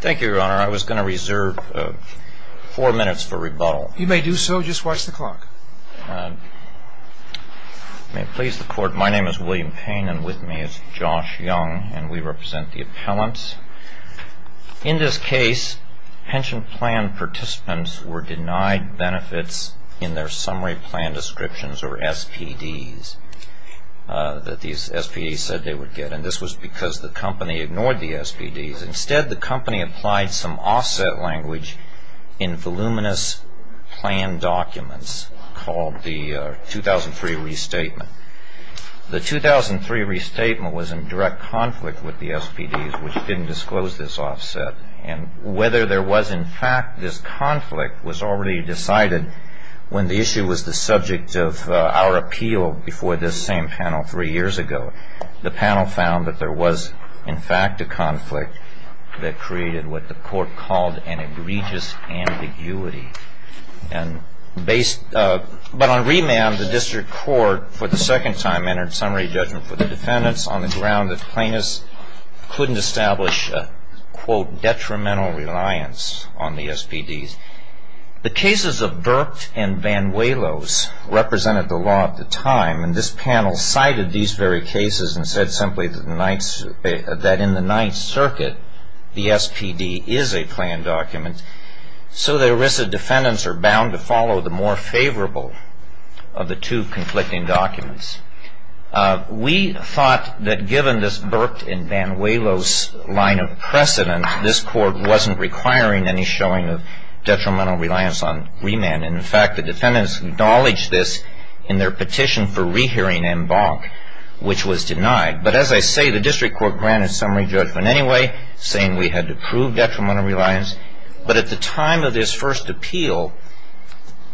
Thank you, Your Honor. I was going to reserve four minutes for rebuttal. You may do so. Just watch the clock. May it please the Court, my name is William Payne, and with me is Josh Young, and we represent the appellants. In this case, pension plan participants were denied benefits in their summary plan descriptions, or SPDs, that these SPDs said they would get, and this was because the company ignored the SPDs. Instead, the company applied some offset language in voluminous plan documents called the 2003 restatement. The 2003 restatement was in direct conflict with the SPDs, which didn't disclose this offset, and whether there was in fact this conflict was already decided when the issue was the subject of our appeal before this same panel three years ago. The panel found that there was in fact a conflict that created what the Court called an egregious ambiguity. But on remand, the District Court for the second time entered summary judgment for the defendants on the ground that plaintiffs couldn't establish a, quote, detrimental reliance on the SPDs. The cases of Burke and Banuelos represented the law at the time, and this panel cited these very cases and said simply that in the Ninth Circuit, the SPD is a plan document, so the ERISA defendants are bound to follow the more favorable of the two conflicting documents. We thought that given this Burke and Banuelos line of precedent, this Court wasn't requiring any showing of detrimental reliance on remand. In fact, the defendants acknowledged this in their petition for rehearing en banc, which was denied. But as I say, the District Court granted summary judgment anyway, saying we had to prove detrimental reliance. But at the time of this first appeal,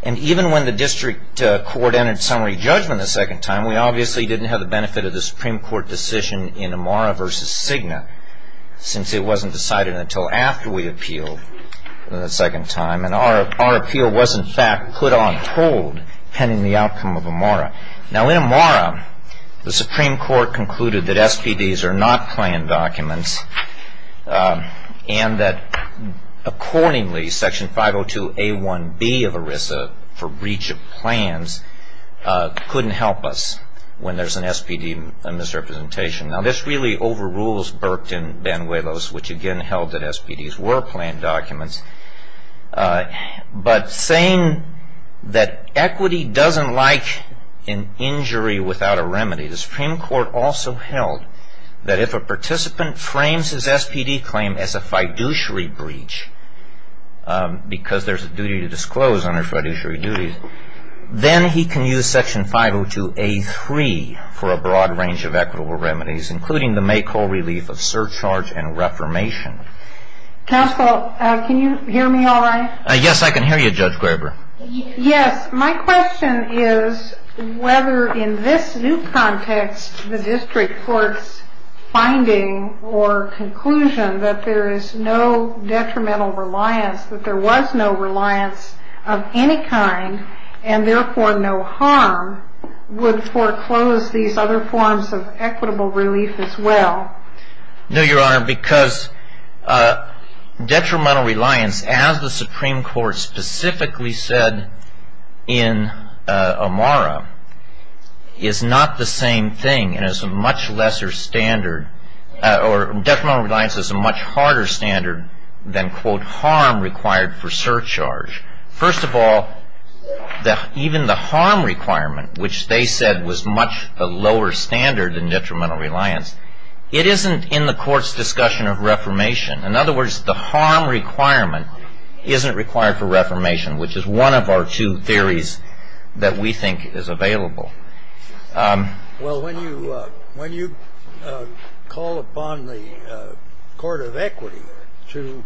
and even when the District Court entered summary judgment the second time, we obviously didn't have the benefit of the Supreme Court decision in Amara v. Cigna, since it wasn't decided until after we appealed the second time. And our appeal was, in fact, put on hold pending the outcome of Amara. Now, in Amara, the Supreme Court concluded that SPDs are not plan documents and that accordingly Section 502A1B of ERISA for breach of plans couldn't help us when there's an SPD misrepresentation. Now, this really overrules Burke and Banuelos, which again held that SPDs were plan documents. But saying that equity doesn't like an injury without a remedy, the Supreme Court also held that if a participant frames his SPD claim as a fiduciary breach, because there's a duty to disclose under fiduciary duties, then he can use Section 502A3 for a broad range of equitable remedies, including the make-all relief of surcharge and reformation. Counsel, can you hear me all right? Yes, I can hear you, Judge Graber. Yes. My question is whether in this new context the District Court's finding or conclusion that there is no detrimental reliance, that there was no reliance of any kind, and therefore no harm would foreclose these other forms of equitable relief as well. No, Your Honor, because detrimental reliance, as the Supreme Court specifically said in Amara, is not the same thing and is a much lesser standard, or detrimental reliance is a much harder standard than, quote, harm required for surcharge. First of all, even the harm requirement, which they said was much a lower standard than detrimental reliance, it isn't in the Court's discussion of reformation. In other words, the harm requirement isn't required for reformation, which is one of our two theories that we think is available. Well, when you call upon the Court of Equity to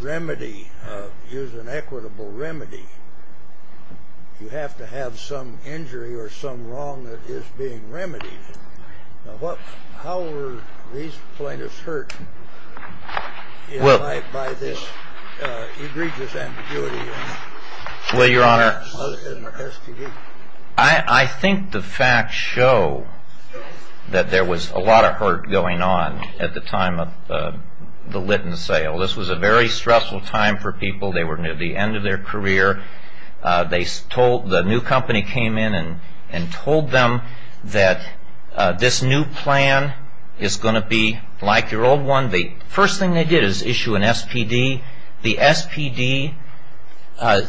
remedy, use an equitable remedy, you have to have some injury or some wrong that is being remedied. How were these plaintiffs hurt by this egregious ambiguity? Well, Your Honor, I think the facts show that there was a lot of hurt going on at the time of the Litton sale. This was a very stressful time for people. They were near the end of their career. The new company came in and told them that this new plan is going to be like your old one. The first thing they did is issue an SPD. The SPD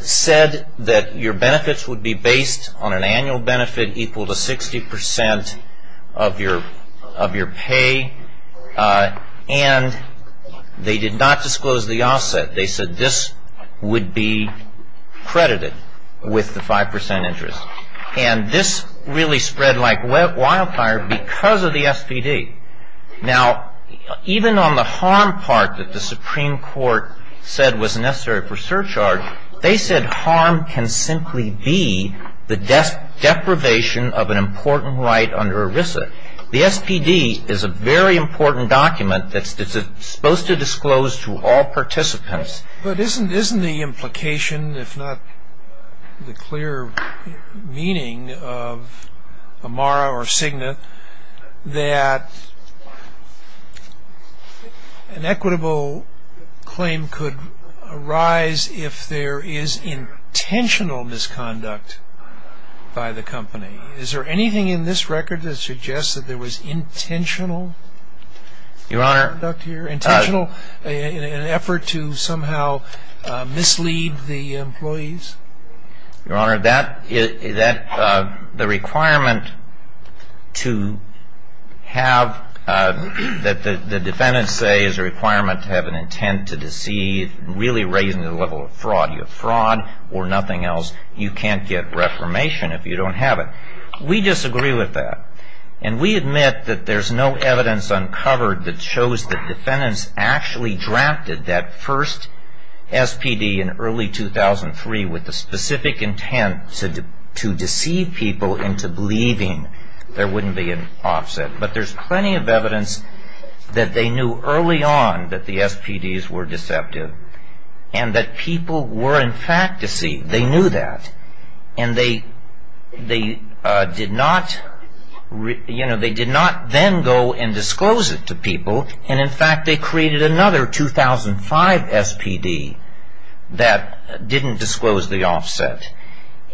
said that your benefits would be based on an annual benefit equal to 60% of your pay, and they did not disclose the offset. They said this would be credited with the 5% interest. And this really spread like wildfire because of the SPD. Now, even on the harm part that the Supreme Court said was necessary for surcharge, they said harm can simply be the deprivation of an important right under ERISA. The SPD is a very important document that's supposed to disclose to all participants. But isn't the implication, if not the clear meaning of Amara or Cigna, that an equitable claim could arise if there is intentional misconduct by the company? Is there anything in this record that suggests that there was intentional misconduct here, intentional in an effort to somehow mislead the employees? Your Honor, the requirement to have, that the defendants say is a requirement to have an intent to deceive, really raising the level of fraud. You have fraud or nothing else. You can't get reformation if you don't have it. We disagree with that. And we admit that there's no evidence uncovered that shows that defendants actually drafted that first SPD in early 2003 with the specific intent to deceive people into believing there wouldn't be an offset. But there's plenty of evidence that they knew early on that the SPDs were deceptive and that people were, in fact, deceived. They knew that. And they did not then go and disclose it to people. And, in fact, they created another 2005 SPD that didn't disclose the offset.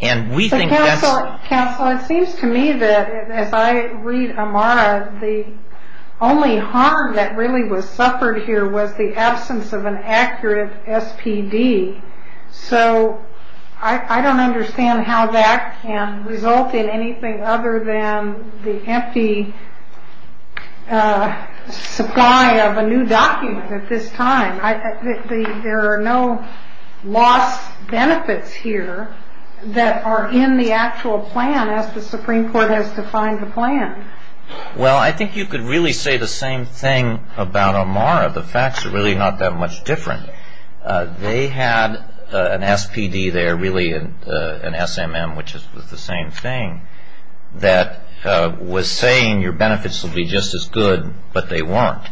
And we think that's... Counsel, it seems to me that, as I read Amara, the only harm that really was suffered here was the absence of an accurate SPD. So I don't understand how that can result in anything other than the empty supply of a new document at this time. There are no lost benefits here that are in the actual plan as the Supreme Court has defined the plan. Well, I think you could really say the same thing about Amara. The facts are really not that much different. They had an SPD there, really an SMM, which was the same thing, that was saying your benefits will be just as good, but they weren't.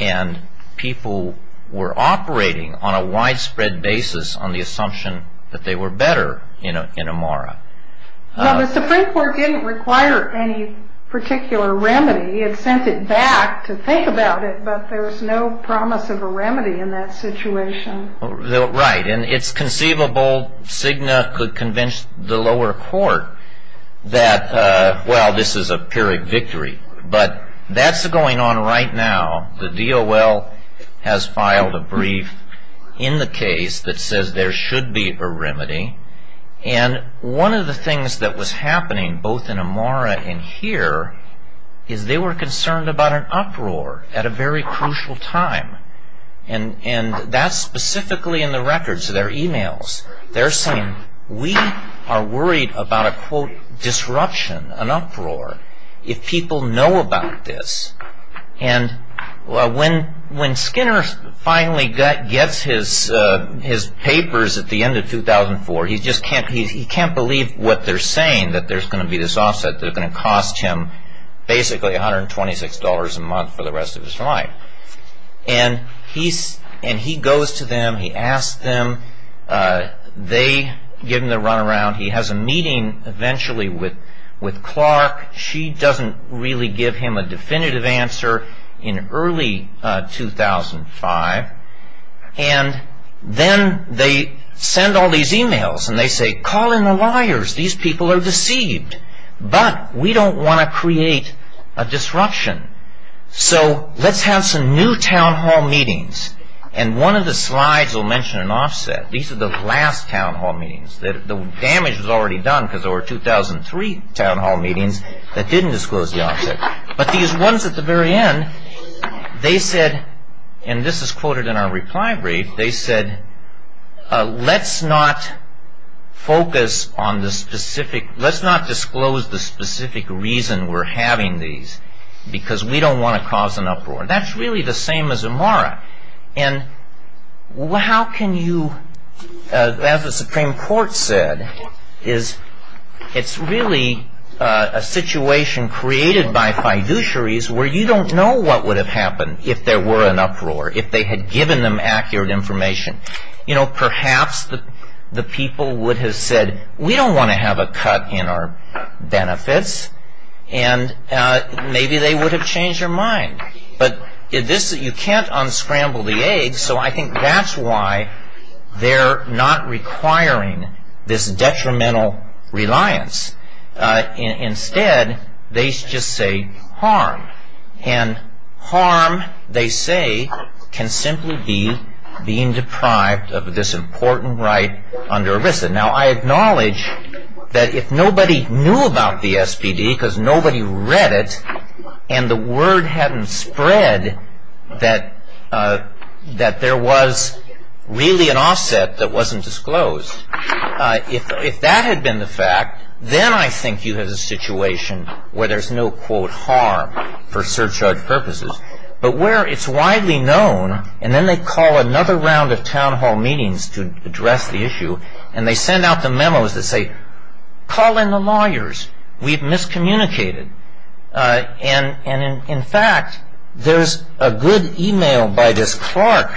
And people were operating on a widespread basis on the assumption that they were better in Amara. Well, the Supreme Court didn't require any particular remedy. It sent it back to think about it, but there was no promise of a remedy in that situation. Right. And it's conceivable Cigna could convince the lower court that, well, this is a pyrrhic victory. But that's going on right now. The DOL has filed a brief in the case that says there should be a remedy. And one of the things that was happening both in Amara and here is they were concerned about an uproar at a very crucial time. And that's specifically in the records, their emails. They're saying we are worried about a, quote, disruption, an uproar, if people know about this. And when Skinner finally gets his papers at the end of 2004, he just can't believe what they're saying, that there's going to be this offset that's going to cost him basically $126 a month for the rest of his life. And he goes to them. He asks them. They give him the runaround. He has a meeting eventually with Clark. She doesn't really give him a definitive answer in early 2005. And then they send all these emails, and they say, call in the liars. These people are deceived. But we don't want to create a disruption. So let's have some new town hall meetings. And one of the slides will mention an offset. These are the last town hall meetings. The damage was already done because there were 2003 town hall meetings that didn't disclose the offset. But these ones at the very end, they said, and this is quoted in our reply brief, they said, let's not disclose the specific reason we're having these because we don't want to cause an uproar. That's really the same as Amara. And how can you, as the Supreme Court said, it's really a situation created by fiduciaries where you don't know what would have happened if there were an uproar, if they had given them accurate information. Perhaps the people would have said, we don't want to have a cut in our benefits. And maybe they would have changed their mind. But you can't unscramble the eggs. So I think that's why they're not requiring this detrimental reliance. Instead, they just say harm. And harm, they say, can simply be being deprived of this important right under ERISA. Now, I acknowledge that if nobody knew about the SPD because nobody read it, and the word hadn't spread that there was really an offset that wasn't disclosed, if that had been the fact, then I think you have a situation where there's no, quote, harm for surcharge purposes, but where it's widely known. And then they call another round of town hall meetings to address the issue. And they send out the memos that say, call in the lawyers. We've miscommunicated. And, in fact, there's a good e-mail by this clerk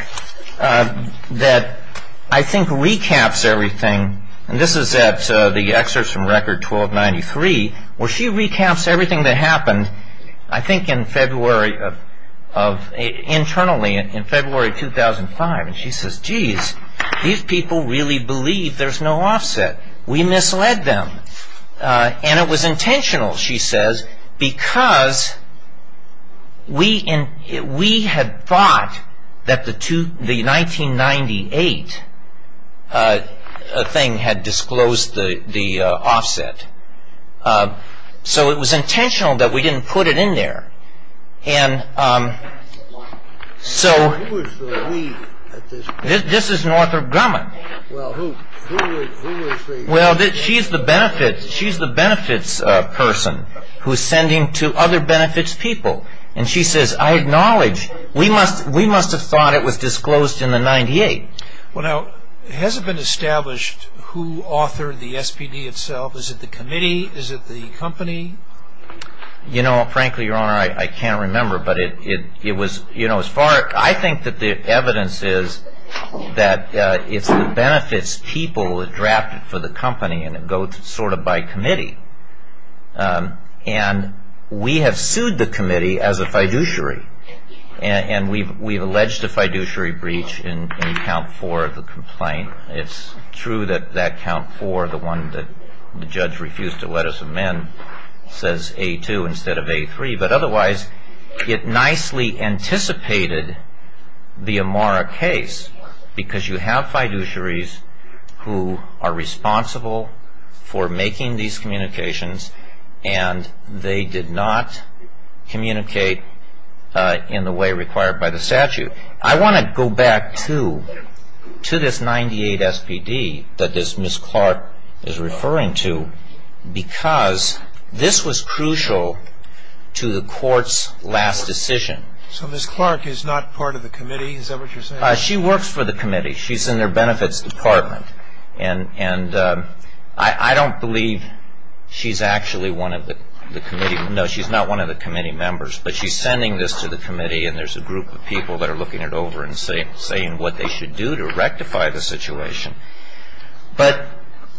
that I think recaps everything. And this is at the excerpt from Record 1293, where she recaps everything that happened, I think, internally in February 2005. And she says, geez, these people really believe there's no offset. We misled them. And it was intentional, she says, because we had thought that the 1998 thing had disclosed the offset. So it was intentional that we didn't put it in there. And so this is Northrop Grumman. Well, who is she? Well, she's the benefits person who's sending to other benefits people. And she says, I acknowledge, we must have thought it was disclosed in the 98. Well, now, has it been established who authored the SPD itself? Is it the committee? Is it the company? You know, frankly, Your Honor, I can't remember. I think that the evidence is that it's the benefits people drafted for the company, and it goes sort of by committee. And we have sued the committee as a fiduciary. And we've alleged a fiduciary breach in Count 4 of the complaint. It's true that that Count 4, the one that the judge refused to let us amend, says A2 instead of A3. But otherwise, it nicely anticipated the Amara case because you have fiduciaries who are responsible for making these communications. And they did not communicate in the way required by the statute. I want to go back to this 98 SPD that Ms. Clark is referring to because this was crucial to the court's last decision. So Ms. Clark is not part of the committee? Is that what you're saying? She works for the committee. She's in their benefits department. And I don't believe she's actually one of the committee. No, she's not one of the committee members. But she's sending this to the committee, and there's a group of people that are looking it over and saying what they should do to rectify the situation. But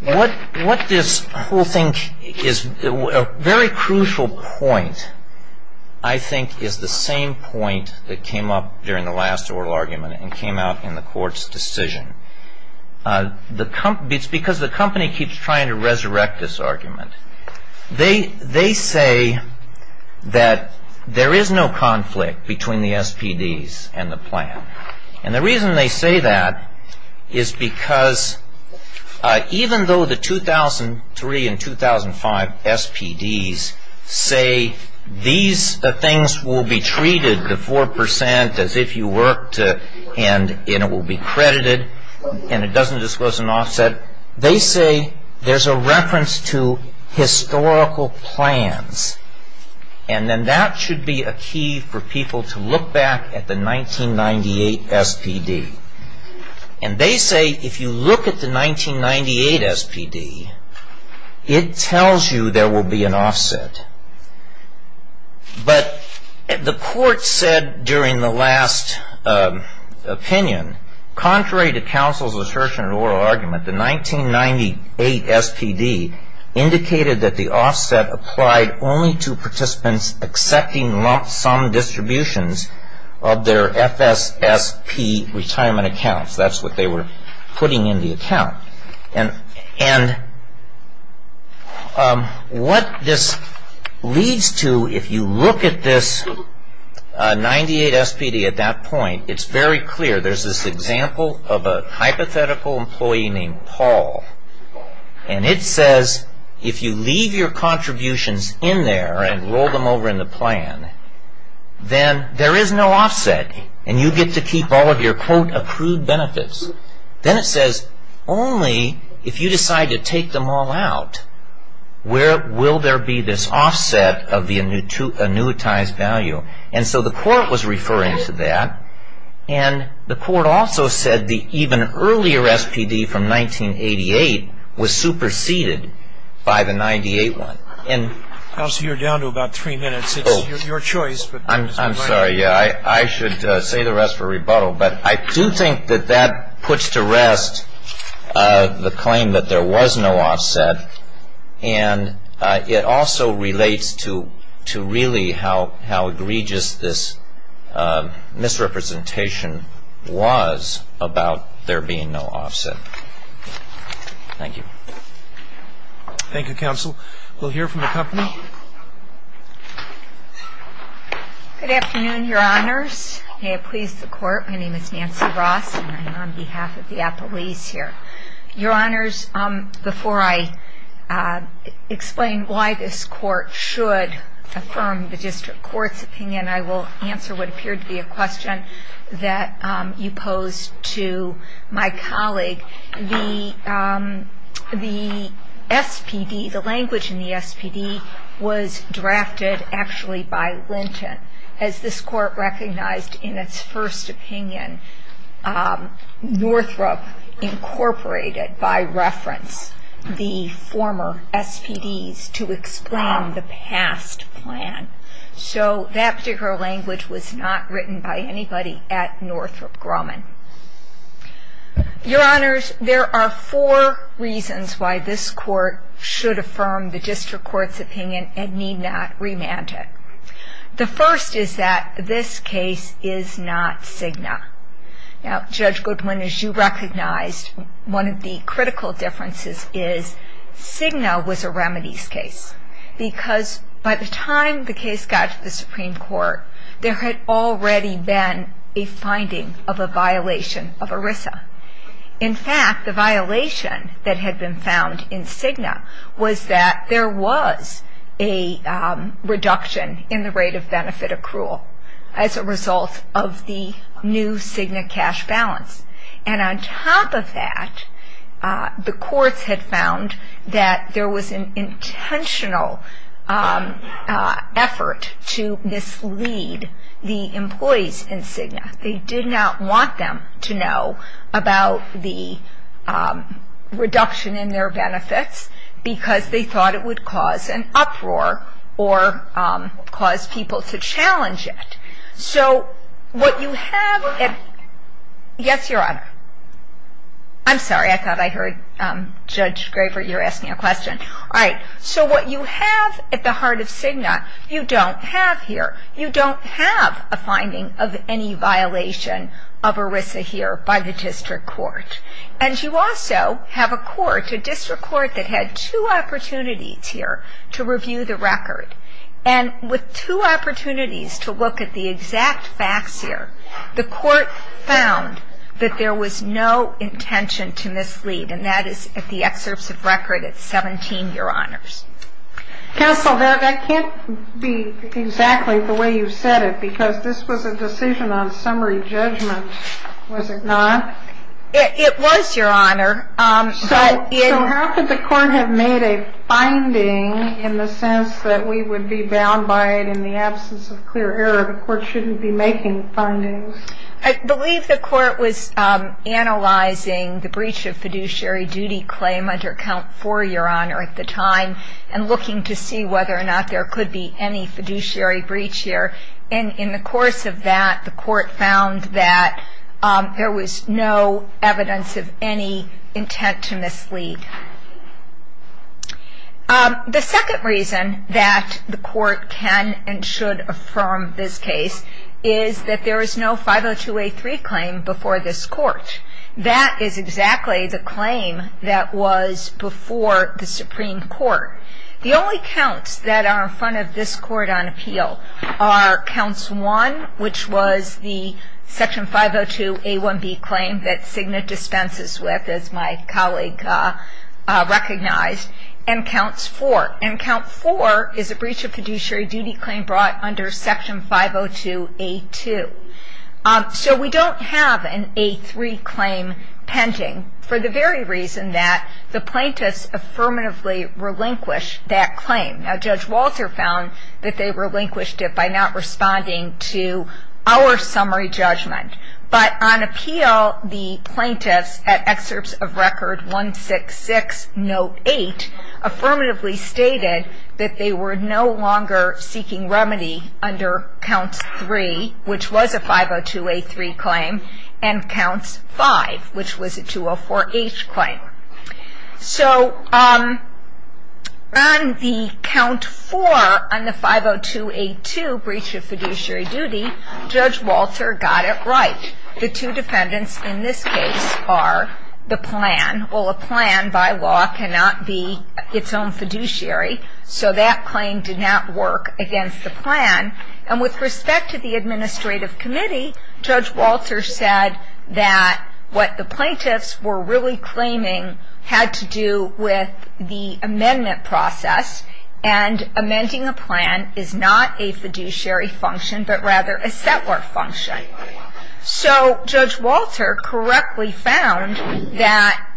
what this whole thing is, a very crucial point, I think, is the same point that came up during the last oral argument and came out in the court's decision. It's because the company keeps trying to resurrect this argument. They say that there is no conflict between the SPDs and the plan. And the reason they say that is because even though the 2003 and 2005 SPDs say these things will be treated to 4% as if you worked and it will be credited and it doesn't disclose an offset, they say there's a reference to historical plans. And then that should be a key for people to look back at the 1998 SPD. And they say if you look at the 1998 SPD, it tells you there will be an offset. But the court said during the last opinion, contrary to counsel's assertion in oral argument, the 1998 SPD indicated that the offset applied only to participants accepting lump sum distributions of their FSSP retirement accounts. That's what they were putting in the account. And what this leads to, if you look at this 1998 SPD at that point, it's very clear. There's this example of a hypothetical employee named Paul. And it says if you leave your contributions in there and roll them over in the plan, then there is no offset. And you get to keep all of your quote, accrued benefits. Then it says only if you decide to take them all out, where will there be this offset of the annuitized value? And so the court was referring to that. And the court also said the even earlier SPD from 1988 was superseded by the 1998 one. And, counsel, you're down to about three minutes. It's your choice. I'm sorry. I should say the rest for rebuttal. But I do think that that puts to rest the claim that there was no offset. And it also relates to really how egregious this misrepresentation was about there being no offset. Thank you. Thank you, counsel. We'll hear from the company. Good afternoon, Your Honors. May it please the court. My name is Nancy Ross, and I'm on behalf of the appellees here. Your Honors, before I explain why this court should affirm the district court's opinion, I will answer what appeared to be a question that you posed to my colleague. The SPD, the language in the SPD, was drafted actually by Linton. As this court recognized in its first opinion, Northrop incorporated by reference the former SPDs to explain the past plan. So that particular language was not written by anybody at Northrop Grumman. Your Honors, there are four reasons why this court should affirm the district court's opinion and need not remand it. The first is that this case is not Cigna. Now, Judge Goodwin, as you recognized, one of the critical differences is Cigna was a remedies case. Because by the time the case got to the Supreme Court, there had already been a finding of a violation of ERISA. In fact, the violation that had been found in Cigna was that there was a reduction in the rate of benefit accrual as a result of the new Cigna cash balance. And on top of that, the courts had found that there was an intentional effort to mislead the employees in Cigna. They did not want them to know about the reduction in their benefits because they thought it would cause an uproar or cause people to challenge it. So what you have at the heart of Cigna, you don't have here. You don't have a finding of any violation of ERISA here by the district court. And you also have a court, a district court, that had two opportunities here to review the record. And with two opportunities to look at the exact facts here, the court found that there was no intention to mislead. And that is at the excerpts of record at 17, Your Honors. Counsel, that can't be exactly the way you said it because this was a decision on summary judgment, was it not? It was, Your Honor. So how could the court have made a finding in the sense that we would be bound by it in the absence of clear error? The court shouldn't be making findings. I believe the court was analyzing the breach of fiduciary duty claim under Count 4, Your Honor, at the time, and looking to see whether or not there could be any fiduciary breach here. And in the course of that, the court found that there was no evidence of any intent to mislead. The second reason that the court can and should affirm this case is that there is no 502A3 claim before this court. That is exactly the claim that was before the Supreme Court. The only counts that are in front of this court on appeal are Counts 1, which was the Section 502A1B claim that Cigna dispenses with, as my colleague recognized, and Counts 4. And Count 4 is a breach of fiduciary duty claim brought under Section 502A2. So we don't have an A3 claim pending for the very reason that the plaintiffs affirmatively relinquished that claim. Now, Judge Walter found that they relinquished it by not responding to our summary judgment. But on appeal, the plaintiffs at Excerpts of Record 166, Note 8, affirmatively stated that they were no longer seeking remedy under Counts 3, which was a 502A3 claim, and Counts 5, which was a 204H claim. So on the Count 4, on the 502A2 breach of fiduciary duty, Judge Walter got it right. The two defendants in this case are the plan. Well, a plan, by law, cannot be its own fiduciary. So that claim did not work against the plan. And with respect to the Administrative Committee, Judge Walter said that what the plaintiffs were really claiming had to do with the amendment process. And amending a plan is not a fiduciary function, but rather a set work function. So Judge Walter correctly found that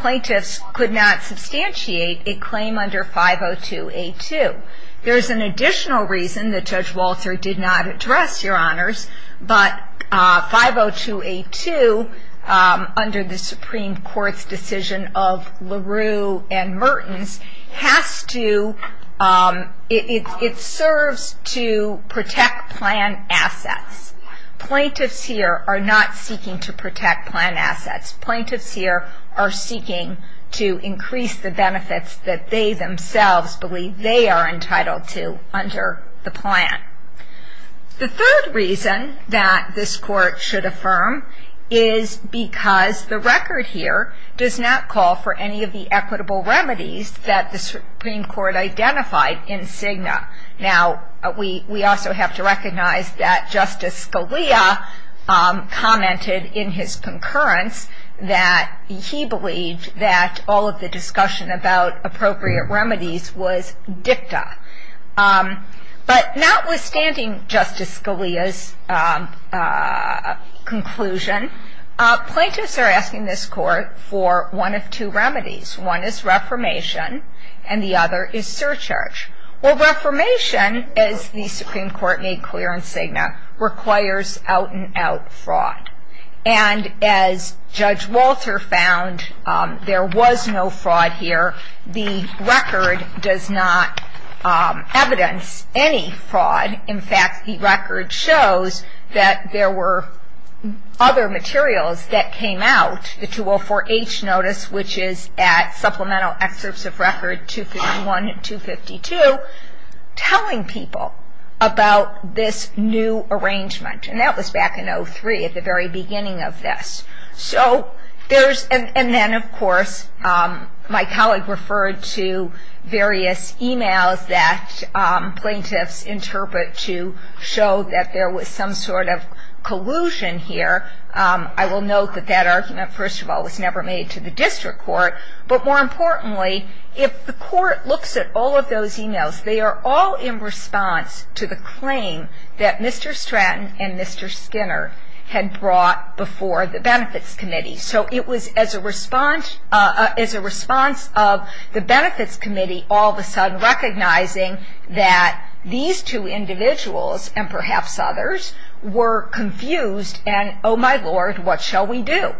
plaintiffs could not substantiate a claim under 502A2. There's an additional reason that Judge Walter did not address, Your Honors, but 502A2, under the Supreme Court's decision of LaRue and Mertens, has to, it serves to protect plan assets. Plaintiffs here are not seeking to protect plan assets. Plaintiffs here are seeking to increase the benefits that they themselves believe they are entitled to under the plan. The third reason that this Court should affirm is because the record here does not call for any of the equitable remedies that the Supreme Court identified in Cigna. Now, we also have to recognize that Justice Scalia commented in his concurrence that he believed that all of the discussion about appropriate remedies was dicta. But notwithstanding Justice Scalia's conclusion, plaintiffs are asking this Court for one of two remedies. One is reformation, and the other is surcharge. Well, reformation, as the Supreme Court made clear in Cigna, requires out-and-out fraud. And as Judge Walter found, there was no fraud here. The record does not evidence any fraud. In fact, the record shows that there were other materials that came out, the 204-H notice, which is at Supplemental Excerpts of Record 251 and 252, telling people about this new arrangement. And that was back in 2003, at the very beginning of this. So there's – and then, of course, my colleague referred to various e-mails that plaintiffs interpret to show that there was some sort of collusion here. I will note that that argument, first of all, was never made to the district court. But more importantly, if the Court looks at all of those e-mails, they are all in response to the claim that Mr. Stratton and Mr. Skinner had brought before the Benefits Committee. So it was as a response of the Benefits Committee all of a sudden recognizing that these two individuals, and perhaps others, were confused. And, oh, my Lord, what shall we do?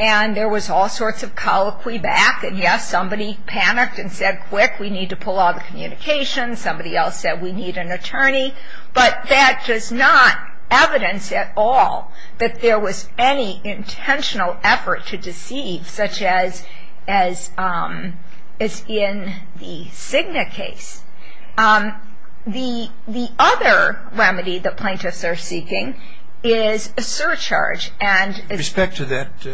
And there was all sorts of colloquy back. And, yes, somebody panicked and said, quick, we need to pull all the communications. Somebody else said, we need an attorney. But that does not evidence at all that there was any intentional effort to deceive, such as is in the Cigna case. The other remedy that plaintiffs are seeking is a surcharge. And – With respect to that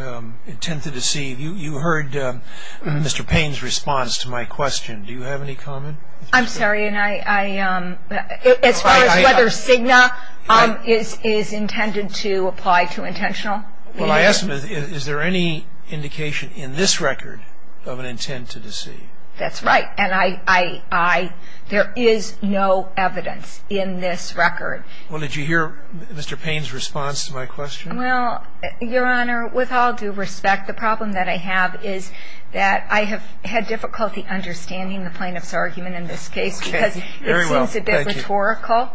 intent to deceive, you heard Mr. Payne's response to my question. Do you have any comment? I'm sorry. As far as whether Cigna is intended to apply to intentional? Well, I asked is there any indication in this record of an intent to deceive? That's right. And I – there is no evidence in this record. Well, did you hear Mr. Payne's response to my question? Well, Your Honor, with all due respect, the problem that I have is that I have had difficulty understanding the plaintiff's argument in this case. Okay. Very well. Thank you. Because it seems a bit rhetorical.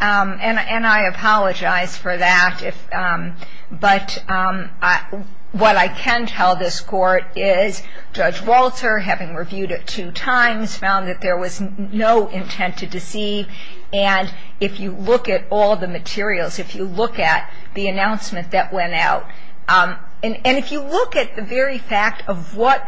And I apologize for that. But what I can tell this Court is Judge Walter, having reviewed it two times, found that there was no intent to deceive. And if you look at all the materials, if you look at the announcement that went out, and if you look at the very fact of what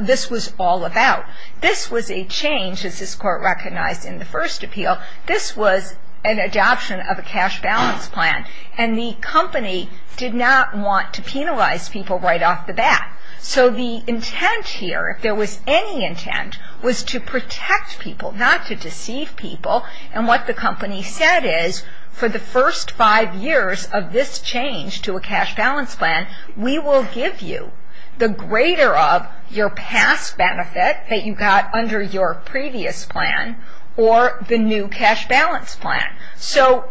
this was all about, this was a change, as this Court recognized in the first appeal, this was an adoption of a cash balance plan. And the company did not want to penalize people right off the bat. So the intent here, if there was any intent, was to protect people, not to deceive people. And what the company said is for the first five years of this change to a cash benefit that you got under your previous plan or the new cash balance plan. So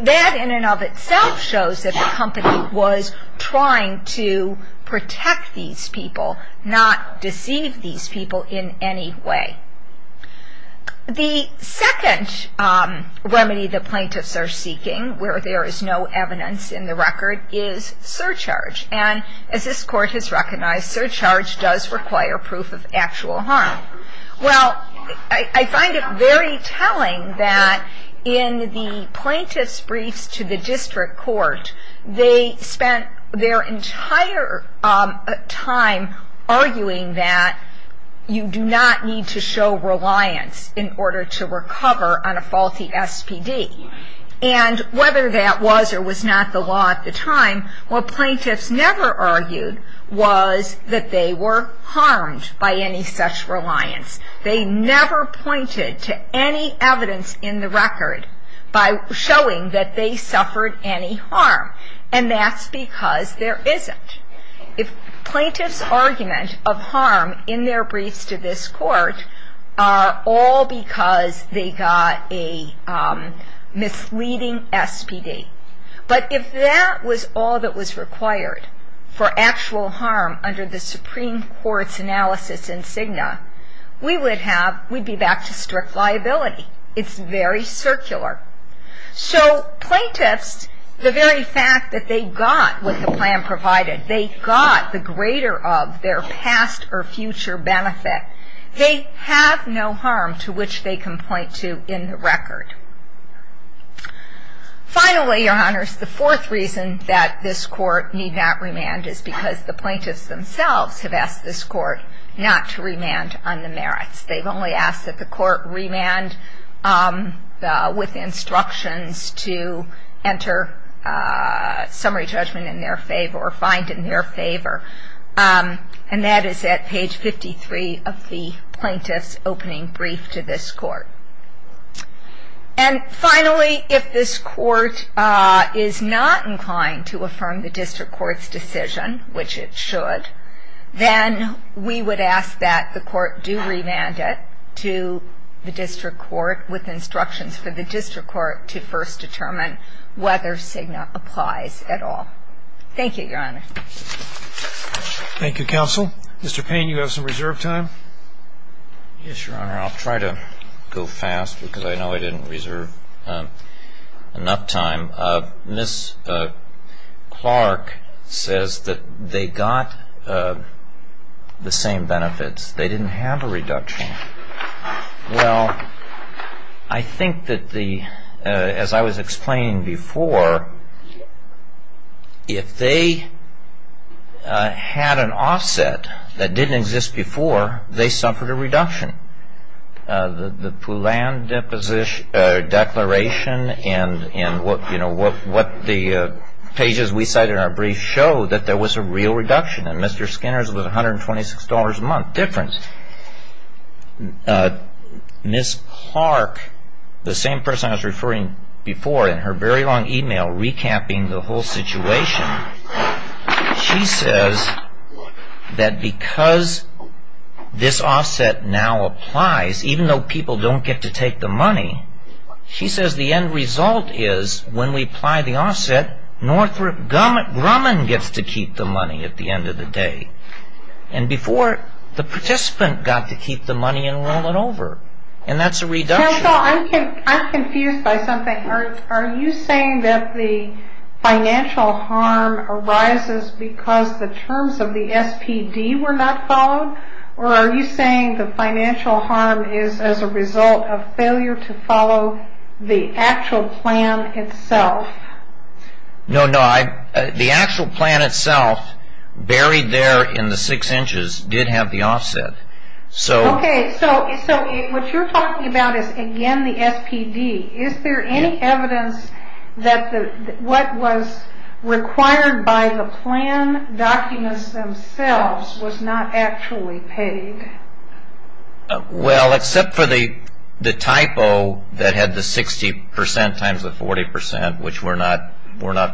that in and of itself shows that the company was trying to protect these people, not deceive these people in any way. The second remedy the plaintiffs are seeking, where there is no evidence in the record, is surcharge. And as this Court has recognized, surcharge does require proof of actual harm. Well, I find it very telling that in the plaintiff's briefs to the district court, they spent their entire time arguing that you do not need to show reliance in order to recover on a faulty SPD. And whether that was or was not the law at the time, what plaintiffs never argued was that they were harmed by any such reliance. They never pointed to any evidence in the record by showing that they suffered any harm. And that's because there isn't. If plaintiffs' argument of harm in their briefs to this Court are all because they got a misleading SPD. But if that was all that was required for actual harm under the Supreme Court's analysis in Cigna, we would be back to strict liability. It's very circular. So plaintiffs, the very fact that they got what the plan provided, they got the greater of their past or future benefit. They have no harm to which they can point to in the record. Finally, Your Honors, the fourth reason that this Court need not remand is because the plaintiffs themselves have asked this Court not to remand on the merits. They've only asked that the Court remand with instructions to enter summary judgment in their favor or find in their favor. And that is at page 53 of the plaintiff's opening brief to this Court. And finally, if this Court is not inclined to affirm the district court's decision, which it should, then we would ask that the court do remand it to the district court with instructions for the district court to first determine whether Cigna Thank you, Your Honor. Thank you, Counsel. Mr. Payne, you have some reserve time. Yes, Your Honor. I'll try to go fast because I know I didn't reserve enough time. Ms. Clark says that they got the same benefits. They didn't have a reduction. Well, I think that the as I was explaining before, if they had a reduction, had an offset that didn't exist before, they suffered a reduction. The Poulin declaration and, you know, what the pages we cite in our brief show that there was a real reduction. And Mr. Skinner's was $126 a month difference. Ms. Clark, the same person I was referring before in her very long email recapping the whole situation, she says that because this offset now applies, even though people don't get to take the money, she says the end result is when we apply the offset, Grumman gets to keep the money at the end of the day. And before, the participant got to keep the money and roll it over. And that's a reduction. I'm confused by something. Are you saying that the financial harm arises because the terms of the SPD were not followed? Or are you saying the financial harm is as a result of failure to follow the actual plan itself? No, no. The actual plan itself, buried there in the six inches, did have the offset. Okay. So what you're talking about is, again, the SPD. Is there any evidence that what was required by the plan documents themselves was not actually paid? Well, except for the typo that had the 60 percent times the 40 percent, which we're not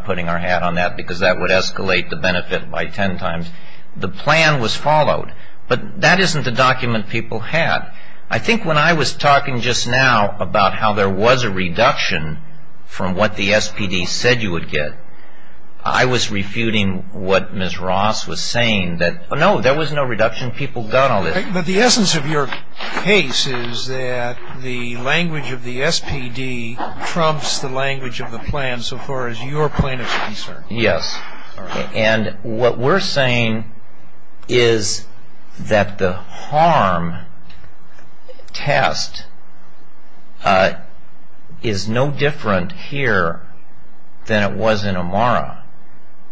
putting our hat on that because that would escalate the benefit by 10 times. The plan was followed. But that isn't the document people had. I think when I was talking just now about how there was a reduction from what the SPD said you would get, I was refuting what Ms. Ross was saying that, no, there was no reduction. People got all this. But the essence of your case is that the language of the SPD trumps the language of the plan so far as your plan is concerned. Yes. And what we're saying is that the harm test is no different here than it was in Amara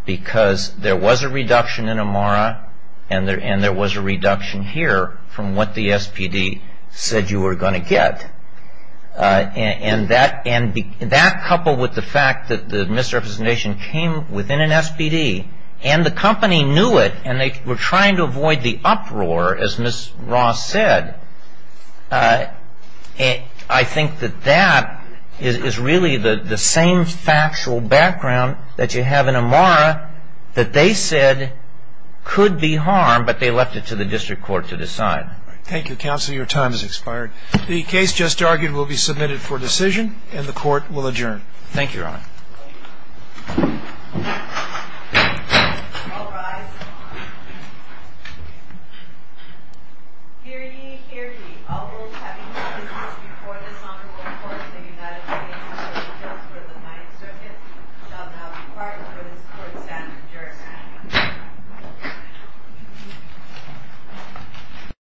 because there was a reduction in Amara and there was a reduction here from what the SPD said you were going to get. And that coupled with the fact that the misrepresentation came within an SPD and the company knew it and they were trying to avoid the uproar, as Ms. Ross said, I think that that is really the same factual background that you have in Amara that they said could be harm, but they left it to the district court to decide. Thank you, counsel. Your time has expired. The case just argued will be submitted for decision and the court will adjourn.